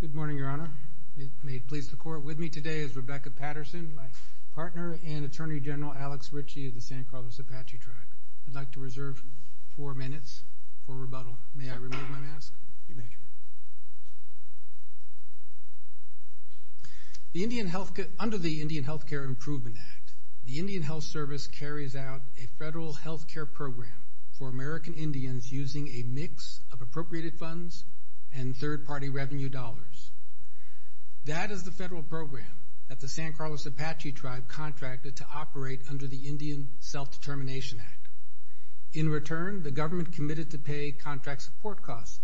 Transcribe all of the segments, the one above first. Good morning, Your Honor. May it please the court, with me today is Rebecca Patterson, my partner and Attorney General Alex Ritchie of the San Carlos Apache Tribe. I'd like to The Indian Health, under the Indian Health Care Improvement Act, the Indian Health Service carries out a federal health care program for American Indians using a mix of appropriated funds and third-party revenue dollars. That is the federal program that the San Carlos Apache Tribe contracted to operate under the Indian Self-Determination Act. In return, the government committed to pay contract support costs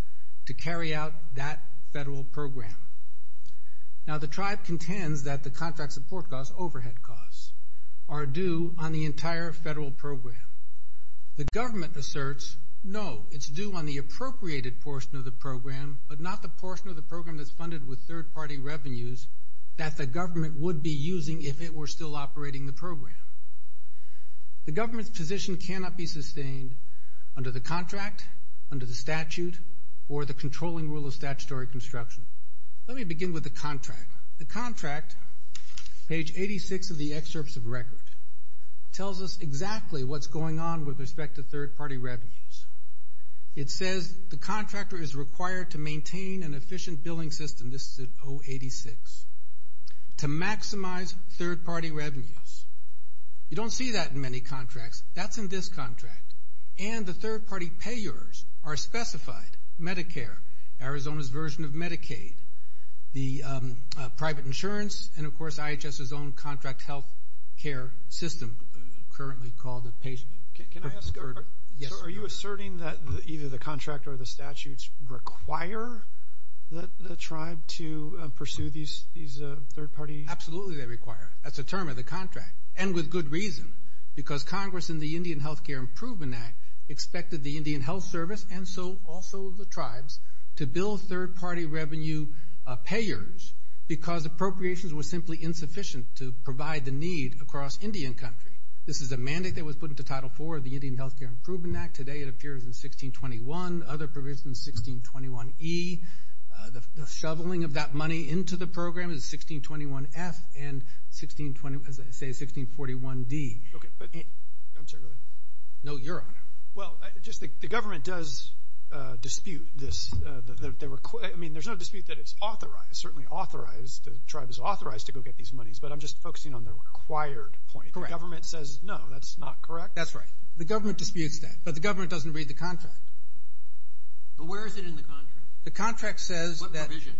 to carry out that federal program. Now the tribe contends that the contract support costs, overhead costs, are due on the entire federal program. The government asserts, no, it's due on the appropriated portion of the program, but not the portion of the program that's funded with third-party revenues that the government would be using if it were still operating the program. The government's position cannot be sustained under the contract, under the statute, or the controlling rule of statutory construction. Let me begin with the contract. The contract, page 86 of the excerpts of record, tells us exactly what's going on with respect to third-party revenues. It says the contractor is required to maintain an efficient billing system, this is at 086, to maximize third-party revenues. You don't see that in many contracts. That's in this contract. And the third-party payers are specified, Medicare, Arizona's version of Medicaid, the private insurance, and of course IHS's own contract health care system, currently called Can I ask, are you asserting that either the contract or the statutes require the tribe to pursue these third-party... Absolutely they require it. That's the term of the contract, and with good reason, because Congress in the Indian Health Care Improvement Act expected the Indian Health Service, and so also the tribes, to bill third-party revenue payers because appropriations were simply insufficient to provide the need across Indian country. This is a mandate that was put into Title IV of the Indian Health Care Improvement Act. Today it appears in 1621. Other provisions, 1621E. The shoveling of that money into the program is 1621F and, as I say, 1641D. I'm sorry, go ahead. No, your honor. Well, just the government does dispute this. I mean, there's no dispute that it's authorized, certainly authorized, the tribe is authorized to go get these monies, but I'm just focusing on the required point. The government says no, that's not correct? That's right. The government disputes that, but the government doesn't read the contract. But where is it in the contract? The contract says that... What provision?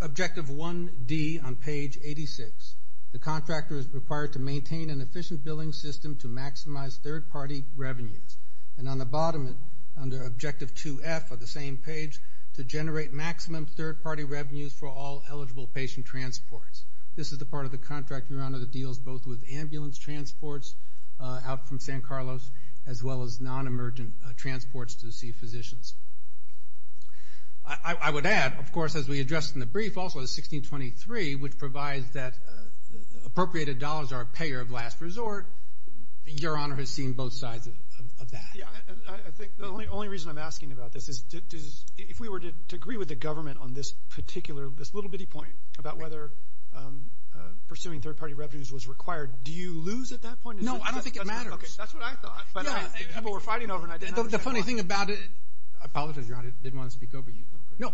Objective 1D on page 86. The contractor is required to maintain an efficient billing system to maximize third-party revenues. And on the bottom, under Objective 2F of the same page, to generate maximum third-party revenues for all eligible patient transports. This is the part of the contract, your honor, that deals both with ambulance transports out from San Carlos, as well as non-emergent transports to see physicians. I would add, of course, as we addressed in the brief, also 1623, which provides that appropriated dollars are a payer of last resort, your honor has seen both sides of that. Yeah, I think the only reason I'm asking about this is, if we were to agree with the government on this particular, this little bitty point, about whether pursuing third-party revenues was required, do you lose at that point? No, I don't think it matters. Okay, that's what I thought, but people were fighting over it and I didn't understand. The funny thing about it, I apologize, your honor, I didn't want to speak over you. No,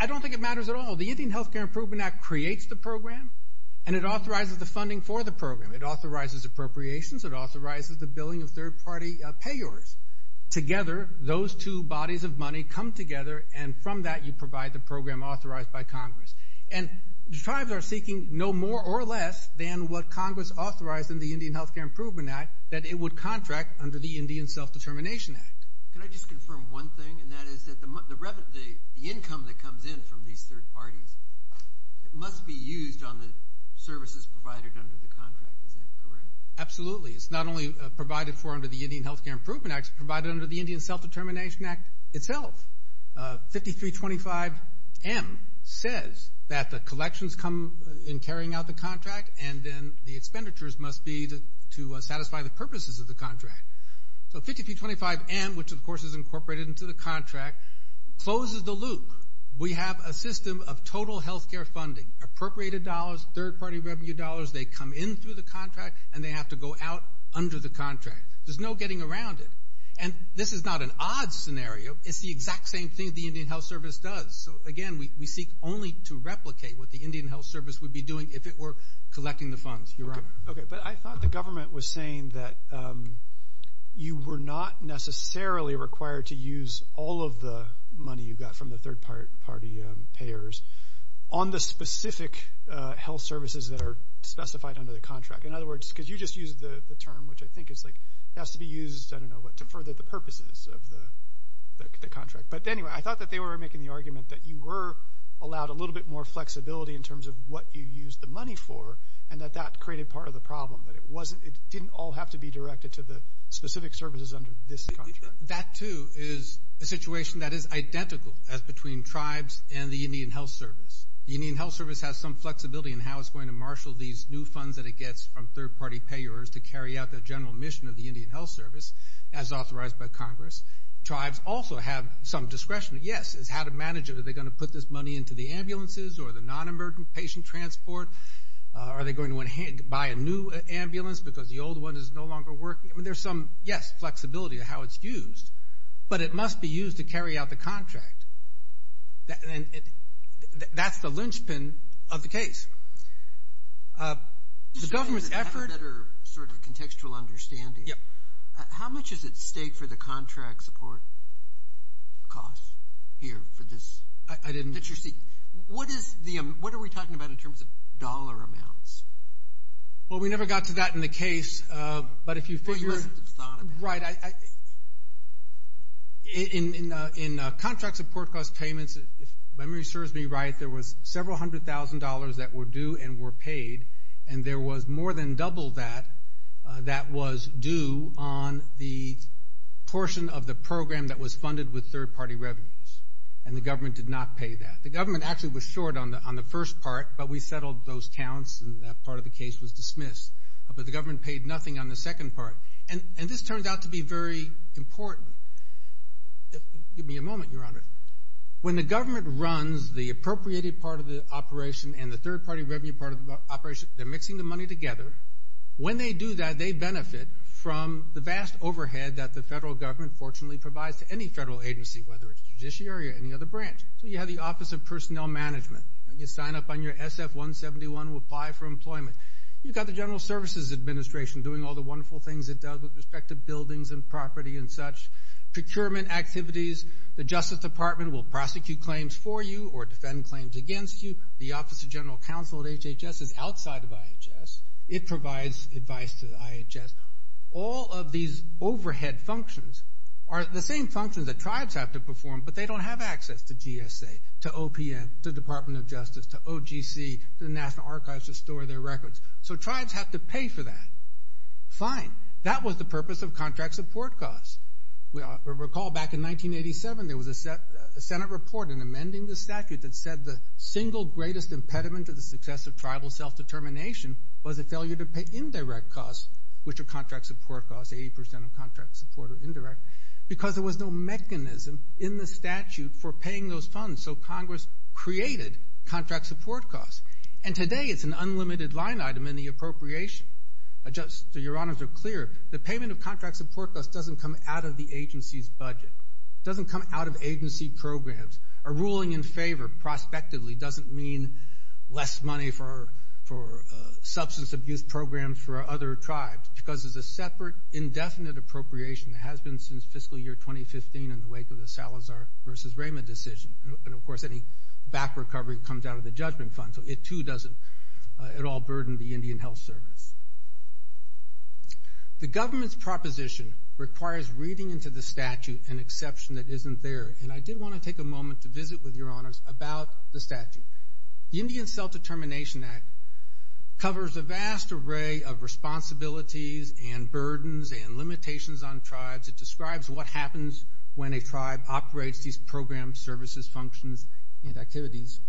I don't think it matters at all. Well, the Indian Health Care Improvement Act creates the program and it authorizes the funding for the program. It authorizes appropriations, it authorizes the billing of third-party payors. Together, those two bodies of money come together and from that you provide the program authorized by Congress. And tribes are seeking no more or less than what Congress authorized in the Indian Health Care Improvement Act, that it would contract under the Indian Self-Determination Act. Can I just confirm one thing, and that is that the income that comes in from these third parties, it must be used on the services provided under the contract, is that correct? Absolutely. It's not only provided for under the Indian Health Care Improvement Act, it's provided under the Indian Self-Determination Act itself. 5325M says that the collections come in carrying out the contract and then the expenditures must be to satisfy the purposes of the contract. So 5325M, which of course is incorporated into the contract, closes the loop. We have a system of total health care funding, appropriated dollars, third-party revenue dollars, they come in through the contract and they have to go out under the contract. There's no getting around it. And this is not an odd scenario, it's the exact same thing the Indian Health Service does. So again, we seek only to replicate what the Indian Health Service would be doing if it were collecting the funds, Your Honor. Okay, but I thought the government was saying that you were not necessarily required to use all of the money you got from the third-party payers on the specific health services that are specified under the contract. In other words, because you just used the term, which I think has to be used, I don't know what, to further the purposes of the contract. But anyway, I thought that they were making the argument that you were allowed a little bit more flexibility in terms of what you used the money for, and that that created part of the problem, that it didn't all have to be directed to the specific services under this contract. That, too, is a situation that is identical as between tribes and the Indian Health Service. The Indian Health Service has some flexibility in how it's going to marshal these new funds that it gets from third-party payers to carry out the general mission of the Indian Health Service, as authorized by Congress. Tribes also have some discretion, yes, as how to manage it. Are they going to put this money into the ambulances or the non-emergent patient transport? Are they going to buy a new ambulance because the old one is no longer working? I mean, there's some, yes, flexibility to how it's used, but it must be used to carry out the contract. And that's the linchpin of the case. The government's effort— To get a better sort of contextual understanding, how much is at stake for the contract support costs here for this? I didn't— What are we talking about in terms of dollar amounts? Well, we never got to that in the case, but if you figure— What you must have thought about. Right. In contract support cost payments, if memory serves me right, there was several hundred thousand dollars that were due and were paid, and there was more than double that that was due on the portion of the program that was funded with third-party revenues, and the government did not pay that. The government actually was short on the first part, but we settled those counts and that part of the case was dismissed. But the government paid nothing on the second part. And this turns out to be very important. Give me a moment, Your Honor. When the government runs the appropriated part of the operation and the third-party revenue part of the operation, they're mixing the money together. When they do that, they benefit from the vast overhead that the federal government, fortunately, provides to any federal agency, whether it's judiciary or any other branch. So you have the Office of Personnel Management. You sign up on your SF-171 to apply for employment. You've got the General Services Administration doing all the wonderful things it does with respect to buildings and property and such, procurement activities. The Justice Department will prosecute claims for you or defend claims against you. The Office of General Counsel at HHS is outside of IHS. It provides advice to IHS. All of these overhead functions are the same functions that tribes have to perform, but they don't have access to GSA, to OPM, to the Department of Justice, to OGC, to the National Archives to store their records. So tribes have to pay for that. Fine. That was the purpose of contract support costs. Recall back in 1987 there was a Senate report in amending the statute that said the single greatest impediment to the success of tribal self-determination was a failure to pay indirect costs, which are contract support costs. Eighty percent of contract support are indirect. Because there was no mechanism in the statute for paying those funds, so Congress created contract support costs. And today it's an unlimited line item in the appropriation. Your Honors are clear. The payment of contract support costs doesn't come out of the agency's budget. It doesn't come out of agency programs. A ruling in favor prospectively doesn't mean less money for substance abuse programs for other tribes because it's a separate, indefinite appropriation that has been since fiscal year 2015 in the wake of the Salazar v. Rama decision. And, of course, any back recovery comes out of the judgment fund, so it too doesn't at all burden the Indian Health Service. The government's proposition requires reading into the statute an exception that isn't there. And I did want to take a moment to visit with your Honors about the statute. The Indian Self-Determination Act covers a vast array of responsibilities and burdens and limitations on tribes. It describes what happens when a tribe operates these programs, services, functions, and activities.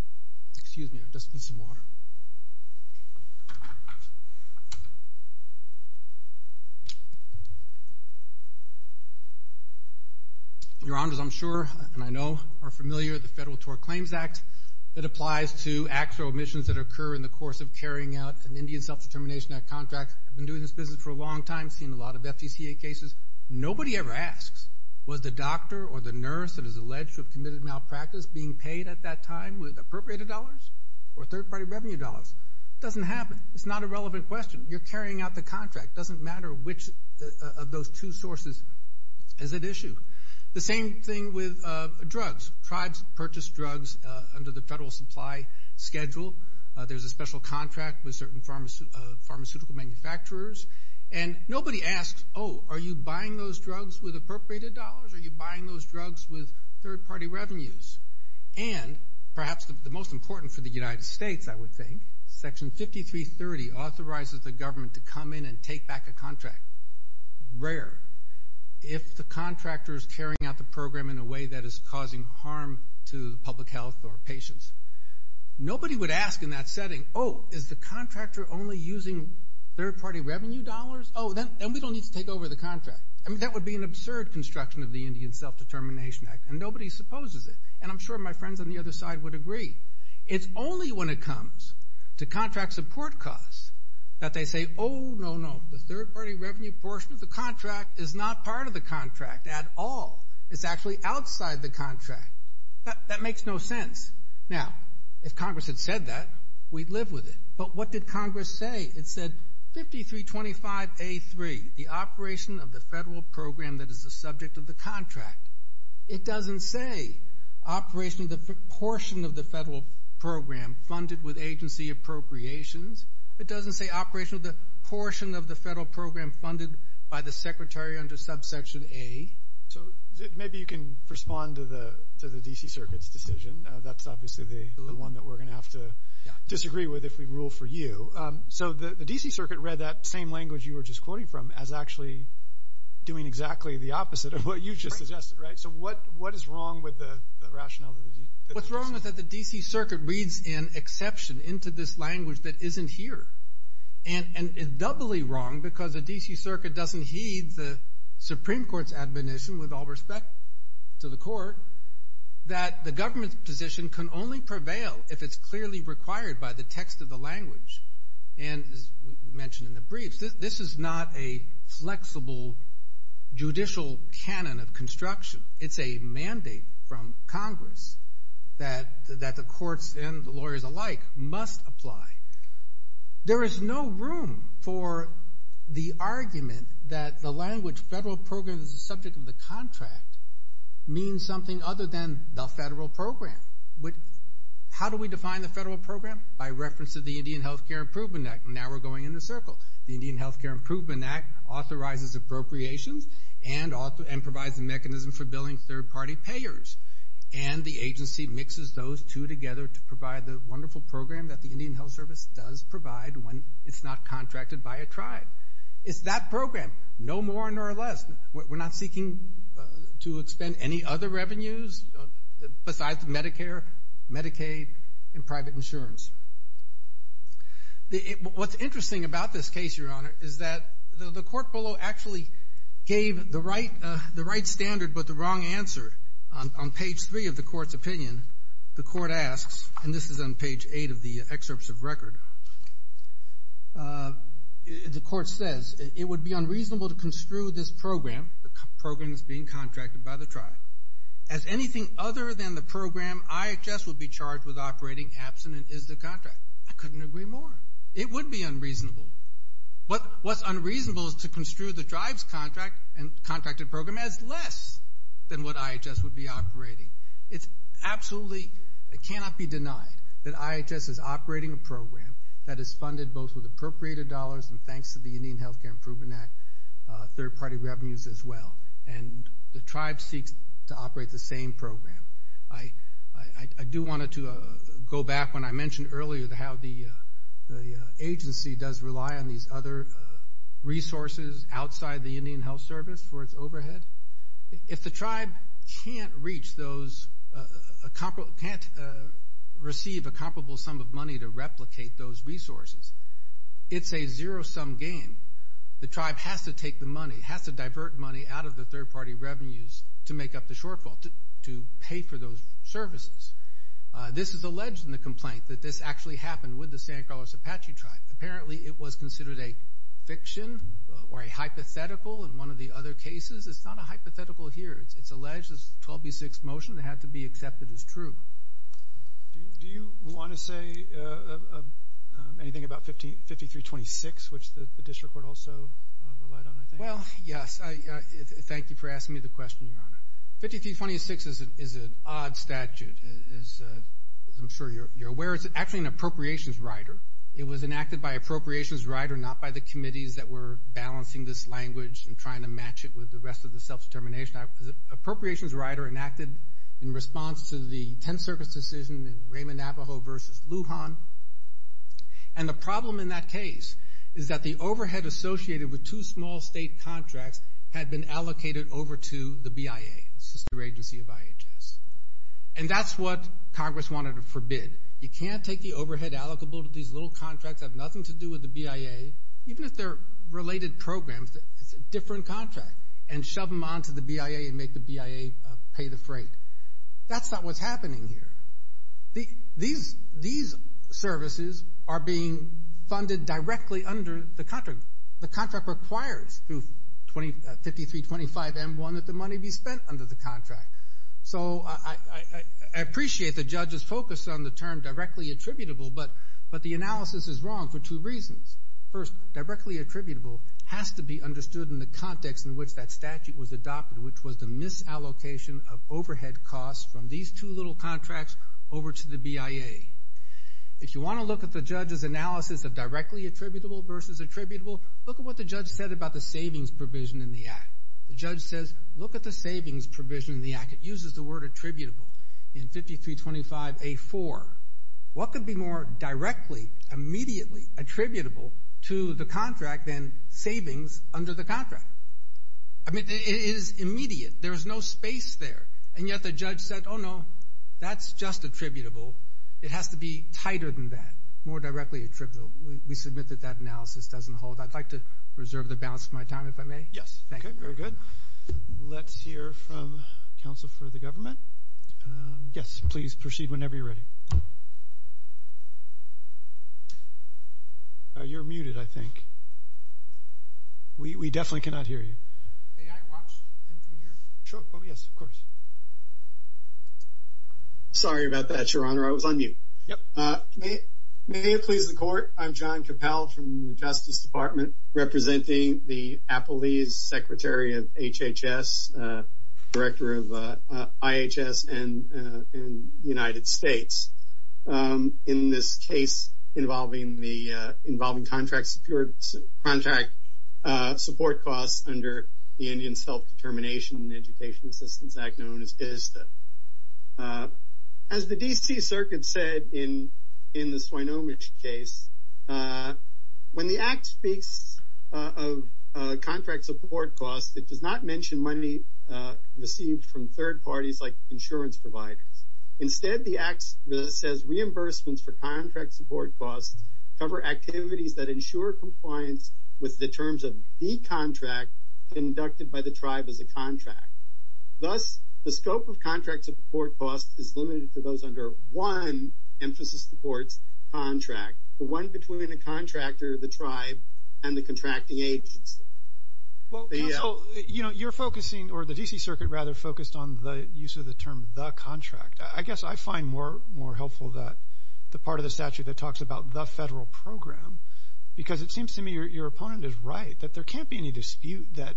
Excuse me, I just need some water. Your Honors, I'm sure, and I know, are familiar with the Federal Tort Claims Act. It applies to acts or omissions that occur in the course of carrying out an Indian Self-Determination Act contract. I've been doing this business for a long time, seen a lot of FDCA cases. Nobody ever asks, was the doctor or the nurse that is alleged to have committed malpractice being paid at that time with appropriated dollars or third-party revenue dollars? It doesn't happen. It's not a relevant question. You're carrying out the contract. It doesn't matter which of those two sources is at issue. The same thing with drugs. Tribes purchase drugs under the Federal Supply Schedule. There's a special contract with certain pharmaceutical manufacturers. And nobody asks, oh, are you buying those drugs with appropriated dollars? Are you buying those drugs with third-party revenues? And perhaps the most important for the United States, I would think, Section 5330 authorizes the government to come in and take back a contract. Rare. If the contractor is carrying out the program in a way that is causing harm to public health or patients, nobody would ask in that setting, oh, is the contractor only using third-party revenue dollars? Oh, then we don't need to take over the contract. I mean, that would be an absurd construction of the Indian Self-Determination Act, and nobody supposes it. And I'm sure my friends on the other side would agree. It's only when it comes to contract support costs that they say, oh, no, no, the third-party revenue portion of the contract is not part of the contract at all. It's actually outside the contract. That makes no sense. Now, if Congress had said that, we'd live with it. But what did Congress say? It said 5325A3, the operation of the federal program that is the subject of the contract. It doesn't say operation of the portion of the federal program funded with agency appropriations. It doesn't say operation of the portion of the federal program funded by the secretary under subsection A. So maybe you can respond to the D.C. Circuit's decision. That's obviously the one that we're going to have to disagree with if we rule for you. So the D.C. Circuit read that same language you were just quoting from as actually doing exactly the opposite of what you just suggested, right? So what is wrong with the rationale? What's wrong is that the D.C. Circuit reads an exception into this language that isn't here. And it's doubly wrong because the D.C. Circuit doesn't heed the Supreme Court's admonition, with all respect to the Court, that the government's position can only prevail if it's clearly required by the text of the language. And as we mentioned in the briefs, this is not a flexible judicial canon of construction. It's a mandate from Congress that the courts and the lawyers alike must apply. There is no room for the argument that the language federal program is the subject of the contract means something other than the federal program. How do we define the federal program? By reference to the Indian Health Care Improvement Act. Now we're going in a circle. The Indian Health Care Improvement Act authorizes appropriations and provides a mechanism for billing third-party payers. And the agency mixes those two together to provide the wonderful program that the Indian Health Service does provide when it's not contracted by a tribe. It's that program, no more nor less. We're not seeking to expend any other revenues besides Medicare, Medicaid, and private insurance. What's interesting about this case, Your Honor, is that the court below actually gave the right standard but the wrong answer. On page 3 of the court's opinion, the court asks, and this is on page 8 of the excerpts of record, the court says, it would be unreasonable to construe this program, the program that's being contracted by the tribe, as anything other than the program IHS would be charged with operating absent and is the contract. I couldn't agree more. It would be unreasonable. What's unreasonable is to construe the tribe's contracted program as less than what IHS would be operating. It absolutely cannot be denied that IHS is operating a program that is funded both with appropriated dollars and thanks to the Indian Health Care Improvement Act, third-party revenues as well. And the tribe seeks to operate the same program. I do want to go back when I mentioned earlier how the agency does rely on these other resources outside the Indian Health Service for its overhead. If the tribe can't reach those, can't receive a comparable sum of money to replicate those resources, it's a zero-sum game. The tribe has to take the money, has to divert money out of the third-party revenues to make up the shortfall, to pay for those services. This is alleged in the complaint that this actually happened with the San Carlos Apache tribe. Apparently it was considered a fiction or a hypothetical in one of the other cases. It's not a hypothetical here. It's alleged this 12B6 motion had to be accepted as true. Do you want to say anything about 5326, which the district court also relied on, I think? Well, yes. Thank you for asking me the question, Your Honor. 5326 is an odd statute, as I'm sure you're aware. It's actually an appropriations rider. It was enacted by appropriations rider, not by the committees that were balancing this language and trying to match it with the rest of the self-determination. Appropriations rider enacted in response to the 10th Circus decision in Raymond, Navajo v. Lujan. And the problem in that case is that the overhead associated with two small state contracts had been allocated over to the BIA, the sister agency of IHS. And that's what Congress wanted to forbid. You can't take the overhead allocable to these little contracts that have nothing to do with the BIA, even if they're related programs, it's a different contract, and shove them onto the BIA and make the BIA pay the freight. That's not what's happening here. These services are being funded directly under the contract. The contract requires through 5325M1 that the money be spent under the contract. So I appreciate the judge's focus on the term directly attributable, but the analysis is wrong for two reasons. First, directly attributable has to be understood in the context in which that statute was adopted, which was the misallocation of overhead costs from these two little contracts over to the BIA. If you want to look at the judge's analysis of directly attributable versus attributable, look at what the judge said about the savings provision in the act. The judge says, look at the savings provision in the act. It uses the word attributable in 5325A4. What could be more directly, immediately attributable to the contract than savings under the contract? I mean, it is immediate. There is no space there, and yet the judge said, oh, no, that's just attributable. It has to be tighter than that, more directly attributable. We submit that that analysis doesn't hold. I'd like to reserve the balance of my time, if I may. Yes. Thank you. Very good. Let's hear from counsel for the government. Yes, please proceed whenever you're ready. You're muted, I think. We definitely cannot hear you. May I watch him from here? Sure. Oh, yes, of course. Sorry about that, Your Honor. I was on mute. Yep. May it please the Court, I'm John Capel from the Justice Department, representing the Apollese Secretary of HHS, Director of IHS in the United States, in this case involving contract support costs under the Indian Self-Determination and Education Assistance Act, known as ISTA. As the D.C. Circuit said in the Swinomish case, when the Act speaks of contract support costs, it does not mention money received from third parties like insurance providers. Instead, the Act says reimbursements for contract support costs cover activities that ensure compliance with the terms of the contract conducted by the tribe as a contract. Thus, the scope of contract support costs is limited to those under one emphasis of the Court's contract, the one between the contractor, the tribe, and the contracting agency. Counsel, you're focusing, or the D.C. Circuit, rather, focused on the use of the term the contract. I guess I find more helpful that the part of the statute that talks about the federal program, because it seems to me your opponent is right, that there can't be any dispute that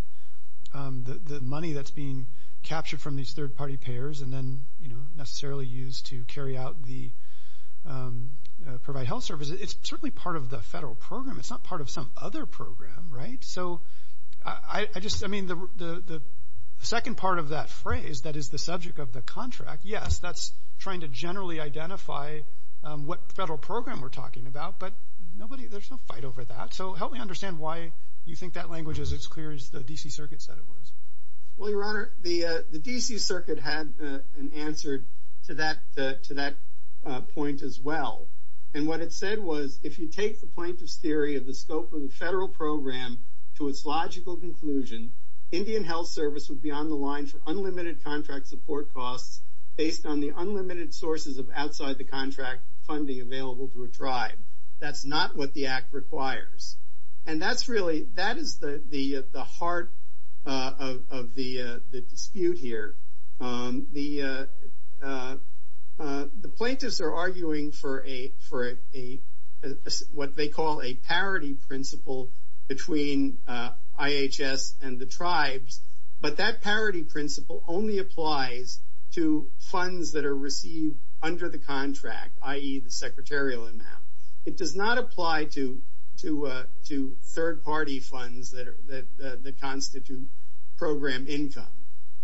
the money that's being captured from these third-party payers and then, you know, necessarily used to carry out the provide health service, it's certainly part of the federal program. It's not part of some other program, right? So I just, I mean, the second part of that phrase, that is the subject of the contract, yes, that's trying to generally identify what federal program we're talking about, but nobody, there's no fight over that. So help me understand why you think that language is as clear as the D.C. Circuit said it was. Well, Your Honor, the D.C. Circuit had an answer to that point as well. And what it said was, if you take the plaintiff's theory of the scope of the federal program to its logical conclusion, Indian Health Service would be on the line for unlimited contract support costs based on the unlimited sources of outside-the-contract funding available to a tribe. That's not what the Act requires. And that's really, that is the heart of the dispute here. The plaintiffs are arguing for a, what they call a parity principle between IHS and the tribes, but that parity principle only applies to funds that are received under the contract, i.e., the secretarial amount. It does not apply to third-party funds that constitute program income.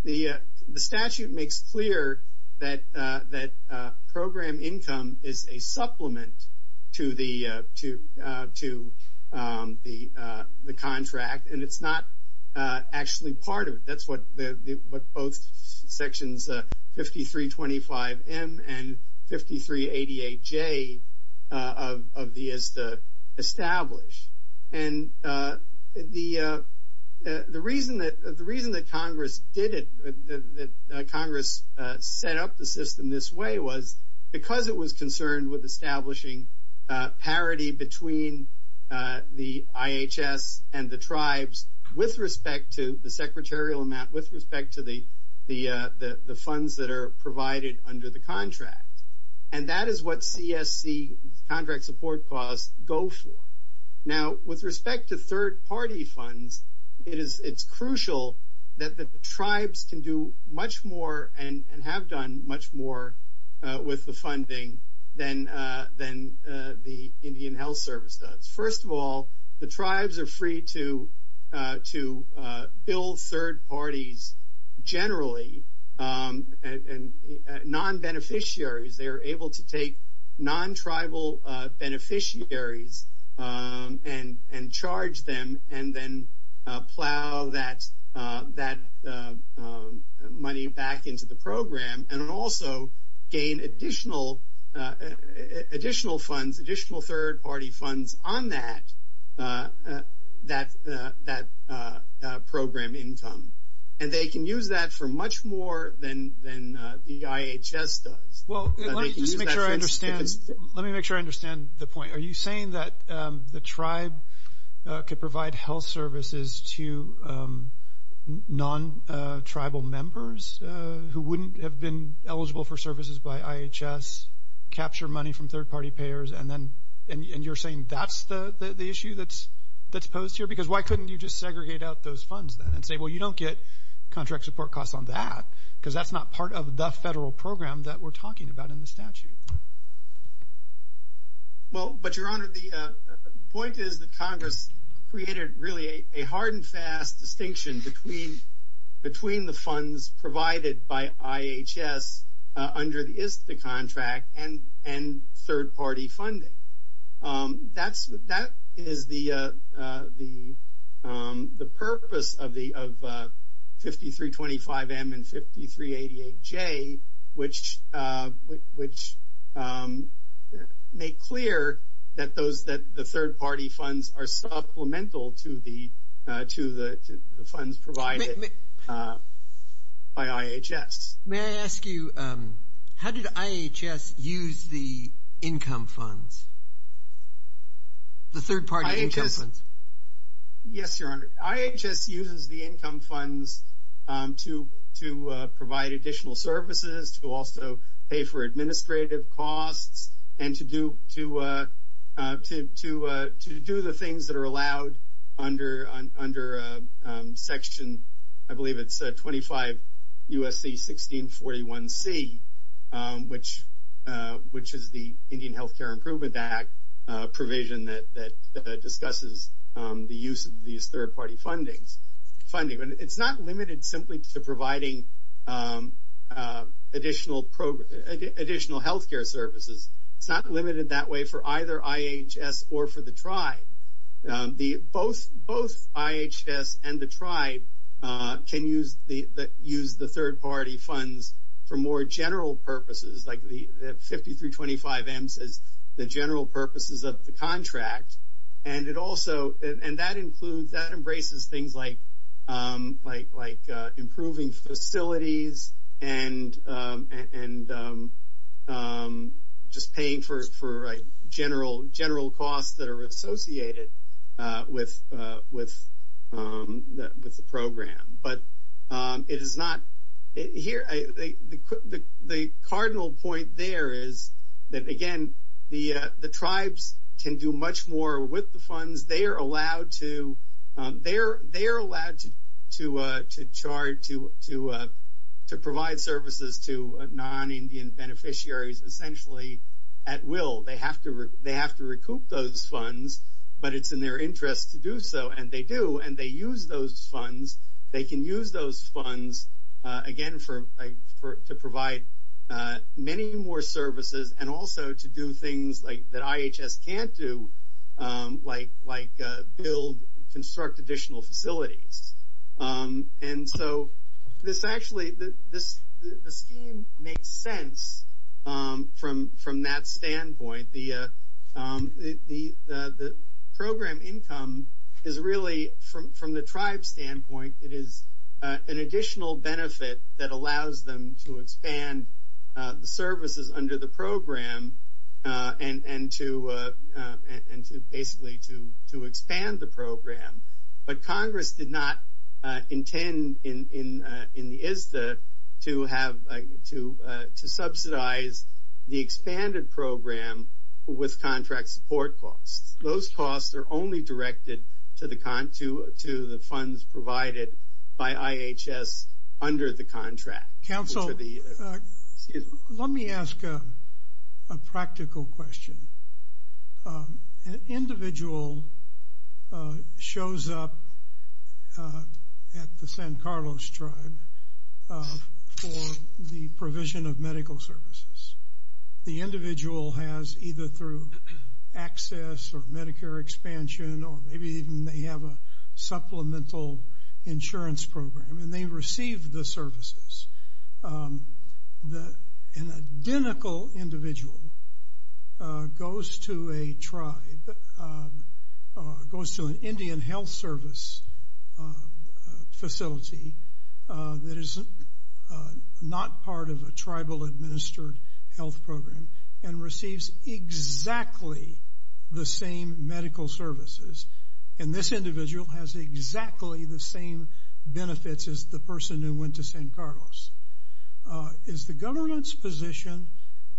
The statute makes clear that program income is a supplement to the contract, and it's not actually part of it. That's what both Sections 5325M and 5388J of the ISTA establish. And the reason that Congress did it, that Congress set up the system this way was because it was concerned with the funds that are provided under the contract. And that is what CSC contract support costs go for. Now, with respect to third-party funds, it's crucial that the tribes can do much more and have done much more with the funding than the Indian Health Service does. First of all, the tribes are free to bill third parties generally, non-beneficiaries. They are able to take non-tribal beneficiaries and charge them and then plow that money back into the program and also gain additional funds, additional third-party funds on that program income. And they can use that for much more than the IHS does. Let me make sure I understand the point. Are you saying that the tribe could provide health services to non-tribal members who wouldn't have been eligible for services by IHS, capture money from third-party payers, and you're saying that's the issue that's posed here? Because why couldn't you just segregate out those funds then and say, well, you don't get contract support costs on that because that's not part of the federal program that we're talking about in the statute? Well, but, Your Honor, the point is that Congress created really a hard and fast distinction between the funds provided by IHS under the ISTA contract and third-party funding. That is the purpose of 5325M and 5388J, which make clear that the third-party funds are supplemental to the funds provided by IHS. May I ask you, how did IHS use the income funds, the third-party income funds? Yes, Your Honor. IHS uses the income funds to provide additional services, to also pay for administrative costs, and to do the things that are allowed under Section, I believe it's 25 U.S.C. 1641C, which is the Indian Health Care Improvement Act provision that discusses the use of these third-party funding. It's not limited simply to providing additional health care services. It's not limited that way for either IHS or for the tribe. Both IHS and the tribe can use the third-party funds for more general purposes, like the 5325M says the general purposes of the contract. And that embraces things like improving facilities and just paying for general costs that are associated with the program. The cardinal point there is that, again, the tribes can do much more with the funds. They are allowed to provide services to non-Indian beneficiaries essentially at will. They have to recoup those funds, but it's in their interest to do so, and they do, and they use those funds. They can use those funds, again, to provide many more services and also to do things that IHS can't do, like build, construct additional facilities. And so this actually, the scheme makes sense from that standpoint. The program income is really, from the tribe's standpoint, it is an additional benefit that allows them to expand the services under the program and to basically to expand the program. But Congress did not intend in the ISDA to subsidize the expanded program with contract support costs. Those costs are only directed to the funds provided by IHS under the contract. Council, let me ask a practical question. An individual shows up at the San Carlos tribe for the provision of medical services. The individual has either through access or Medicare expansion or maybe even they have a supplemental insurance program, and they receive the services. An identical individual goes to a tribe, goes to an Indian health service facility that is not part of a tribal-administered health program and receives exactly the same medical services. And this individual has exactly the same benefits as the person who went to San Carlos. Is the government's position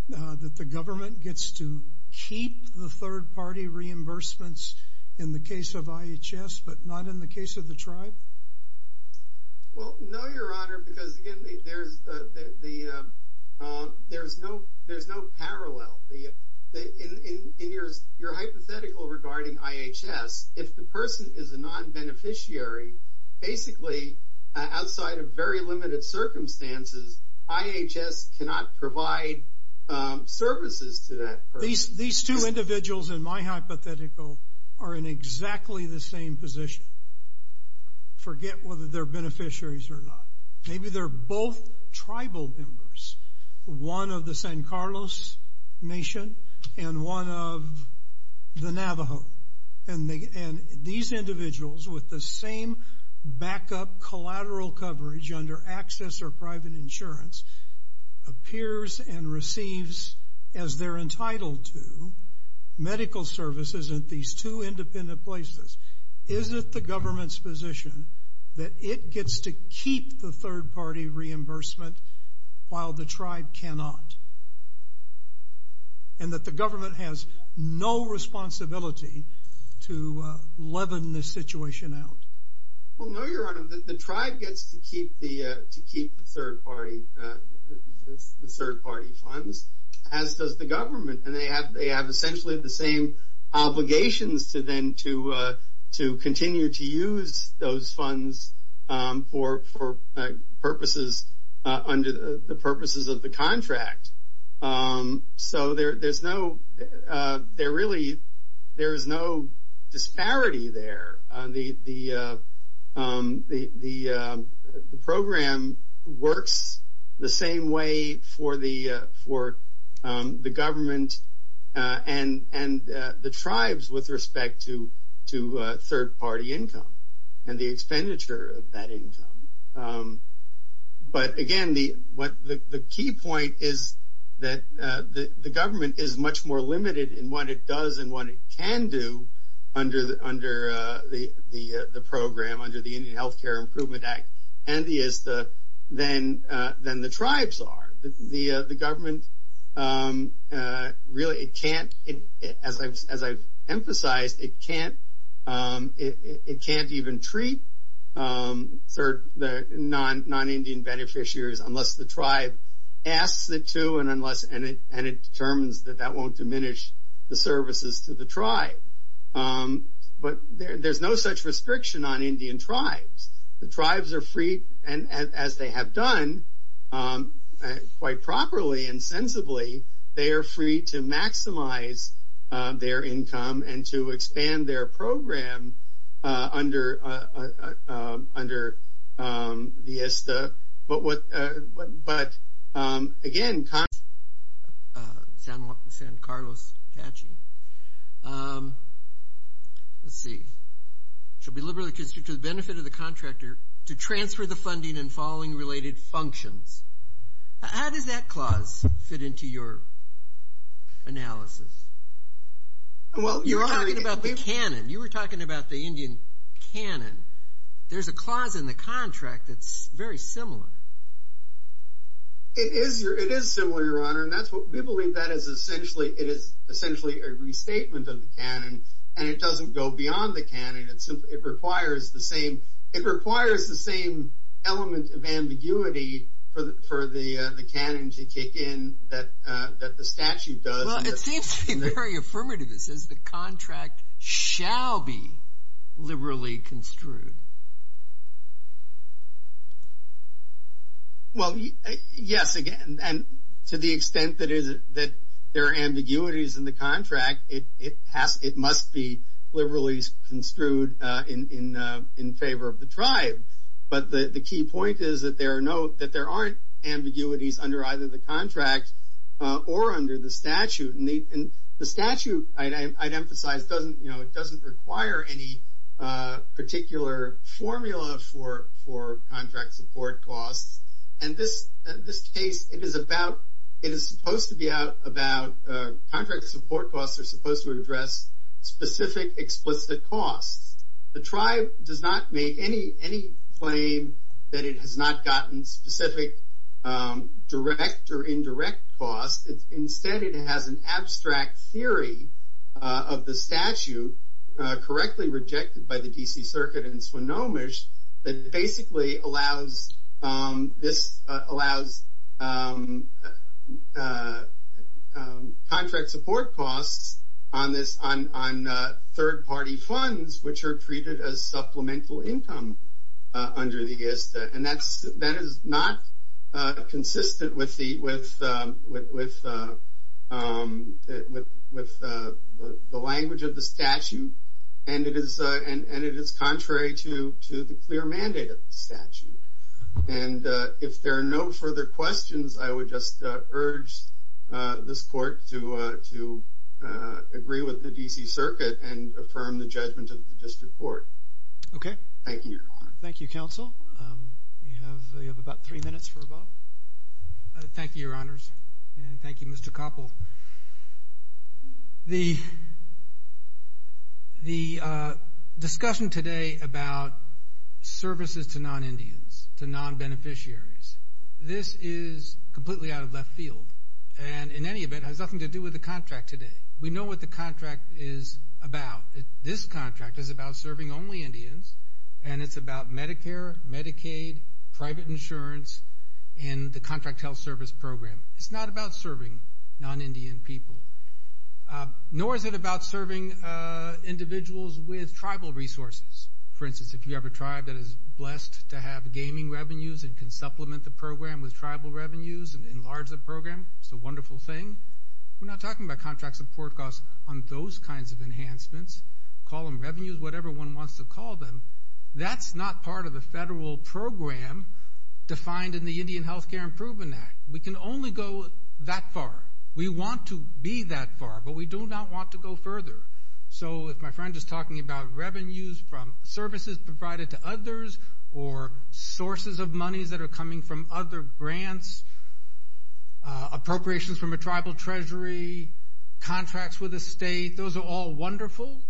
that the government gets to keep the third-party reimbursements in the case of IHS but not in the case of the tribe? Well, no, Your Honor, because, again, there's no parallel. In your hypothetical regarding IHS, if the person is a non-beneficiary, basically outside of very limited circumstances, IHS cannot provide services to that person. These two individuals in my hypothetical are in exactly the same position. Forget whether they're beneficiaries or not. Maybe they're both tribal members, one of the San Carlos nation and one of the Navajo. And these individuals with the same backup collateral coverage under access or private insurance appears and receives, as they're entitled to, medical services in these two independent places. Is it the government's position that it gets to keep the third-party reimbursement while the tribe cannot and that the government has no responsibility to leaven the situation out? Well, no, Your Honor. The tribe gets to keep the third-party funds, as does the government. And they have essentially the same obligations to then to continue to use those funds for purposes under the purposes of the contract. So, there really is no disparity there. The program works the same way for the government and the tribes with respect to third-party income and the expenditure of that income. But, again, the key point is that the government is much more limited in what it does and what it can do under the program, under the Indian Health Care Improvement Act, than the tribes are. The government really can't, as I've emphasized, it can't even treat the non-Indian beneficiaries unless the tribe asks it to and it determines that that won't diminish the services to the tribe. But there's no such restriction on Indian tribes. The tribes are free, and as they have done quite properly and sensibly, they are free to maximize their income and to expand their program under the ISTA. But, again, Congress, San Carlos, Apache, let's see, should be liberally constricted to the benefit of the contractor to transfer the funding and following related functions. How does that clause fit into your analysis? You're talking about the canon. You were talking about the Indian canon. There's a clause in the contract that's very similar. It is similar, Your Honor, and we believe that is essentially a restatement of the canon, and it doesn't go beyond the canon. It requires the same element of ambiguity for the canon to kick in that the statute does. Well, it seems to be very affirmative. It says the contract shall be liberally construed. Well, yes, again, and to the extent that there are ambiguities in the contract, it must be liberally construed in favor of the tribe. But the key point is that there are no, there are ambiguities under either the contract or under the statute, and the statute, I'd emphasize, doesn't require any particular formula for contract support costs, and this case, it is supposed to be out about contract support costs are supposed to address specific explicit costs. The tribe does not make any claim that it has not gotten specific direct or indirect costs. Instead, it has an abstract theory of the statute correctly rejected by the D.C. Circuit in Swinomish that basically allows contract support costs on third-party funds, which are treated as supplemental income under the ISTA, and that is not consistent with the language of the statute, and it is contrary to the clear mandate of the statute. And if there are no further questions, I would just urge this court to agree with the D.C. Circuit and affirm the judgment of the district court. Okay. Thank you, Your Honor. Thank you, Counsel. We have about three minutes for a vote. Thank you, Your Honors, and thank you, Mr. Koppel. The discussion today about services to non-Indians, to non-beneficiaries, this is completely out of left field and, in any event, has nothing to do with the contract today. We know what the contract is about. This contract is about serving only Indians, and it's about Medicare, Medicaid, private insurance, and the contract health service program. It's not about serving non-Indian people, nor is it about serving individuals with tribal resources. For instance, if you have a tribe that is blessed to have gaming revenues and can supplement the program with tribal revenues and enlarge the program, it's a wonderful thing. We're not talking about contract support costs on those kinds of enhancements. Call them revenues, whatever one wants to call them. That's not part of the federal program defined in the Indian Health Care Improvement Act. We can only go that far. We want to be that far, but we do not want to go further. So if my friend is talking about revenues from services provided to others or sources of monies that are coming from other grants, appropriations from a tribal treasury, contracts with a state, those are all wonderful,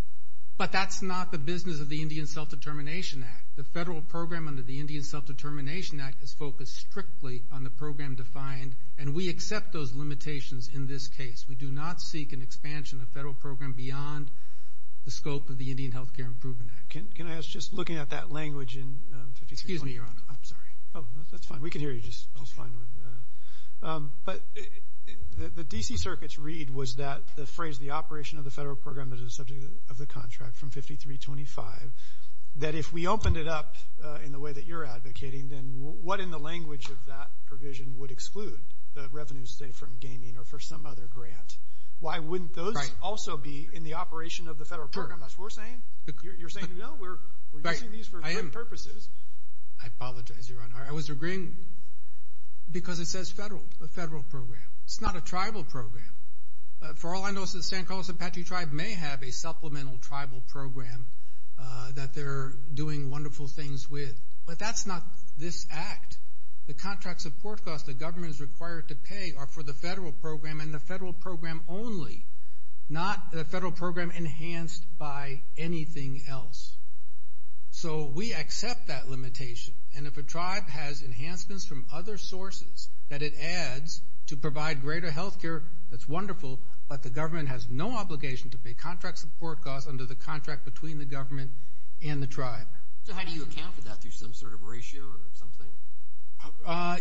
but that's not the business of the Indian Self-Determination Act. The federal program under the Indian Self-Determination Act is focused strictly on the program defined, and we accept those limitations in this case. We do not seek an expansion of the federal program beyond the scope of the Indian Health Care Improvement Act. Can I ask, just looking at that language in 5320? Excuse me, Your Honor. I'm sorry. Oh, that's fine. We can hear you just fine. But the D.C. Circuit's read was that the phrase, the operation of the federal program is a subject of the contract from 5325, that if we opened it up in the way that you're advocating, then what in the language of that provision would exclude the revenues, say, from gaming or for some other grant? Why wouldn't those also be in the operation of the federal program? That's what we're saying? You're saying, no, we're using these for different purposes. I apologize, Your Honor. I was agreeing because it says federal, a federal program. It's not a tribal program. For all I know, San Carlos Apache Tribe may have a supplemental tribal program that they're doing wonderful things with. But that's not this act. The contract support costs the government is required to pay are for the federal program and the federal program only, not the federal program enhanced by anything else. So we accept that limitation. And if a tribe has enhancements from other sources that it adds to provide greater health care, that's wonderful, but the government has no obligation to pay contract support costs under the contract between the government and the tribe. So how do you account for that, through some sort of ratio or something?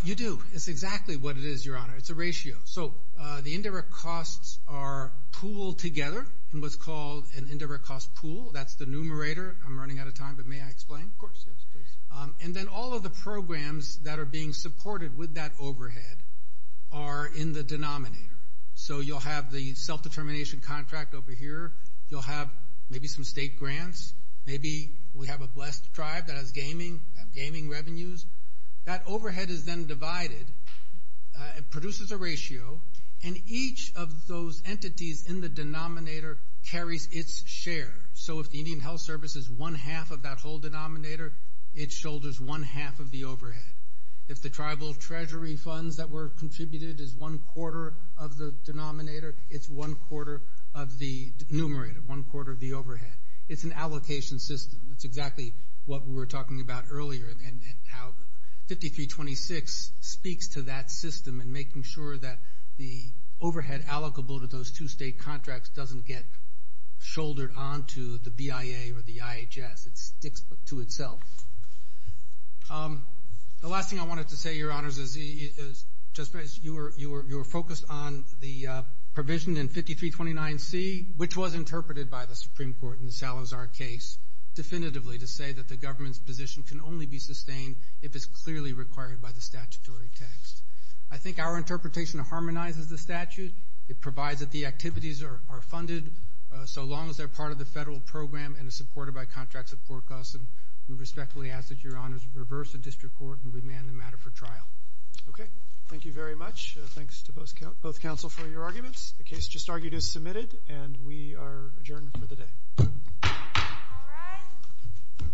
You do. It's exactly what it is, Your Honor. It's a ratio. So the indirect costs are pooled together in what's called an indirect cost pool. That's the numerator. I'm running out of time, but may I explain? Of course, yes, please. And then all of the programs that are being supported with that overhead are in the denominator. So you'll have the self-determination contract over here. You'll have maybe some state grants. Maybe we have a blessed tribe that has gaming revenues. That overhead is then divided, produces a ratio, and each of those entities in the denominator carries its share. So if the Indian Health Service is one-half of that whole denominator, it shoulders one-half of the overhead. If the tribal treasury funds that were contributed is one-quarter of the denominator, it's one-quarter of the numerator, one-quarter of the overhead. It's an allocation system. That's exactly what we were talking about earlier and how 5326 speaks to that system and making sure that the overhead allocable to those two state contracts doesn't get shouldered onto the BIA or the IHS. It sticks to itself. The last thing I wanted to say, Your Honors, is you were focused on the provision in 5329C, which was interpreted by the Supreme Court in the Salazar case definitively to say that the government's position can only be sustained if it's clearly required by the statutory text. I think our interpretation harmonizes the statute. It provides that the activities are funded so long as they're part of the federal program and are supported by contracts of poor cost, and we respectfully ask that Your Honors reverse the district court and remand the matter for trial. Okay. Thank you very much. Thanks to both counsel for your arguments. The case just argued is submitted, and we are adjourned for the day. All rise.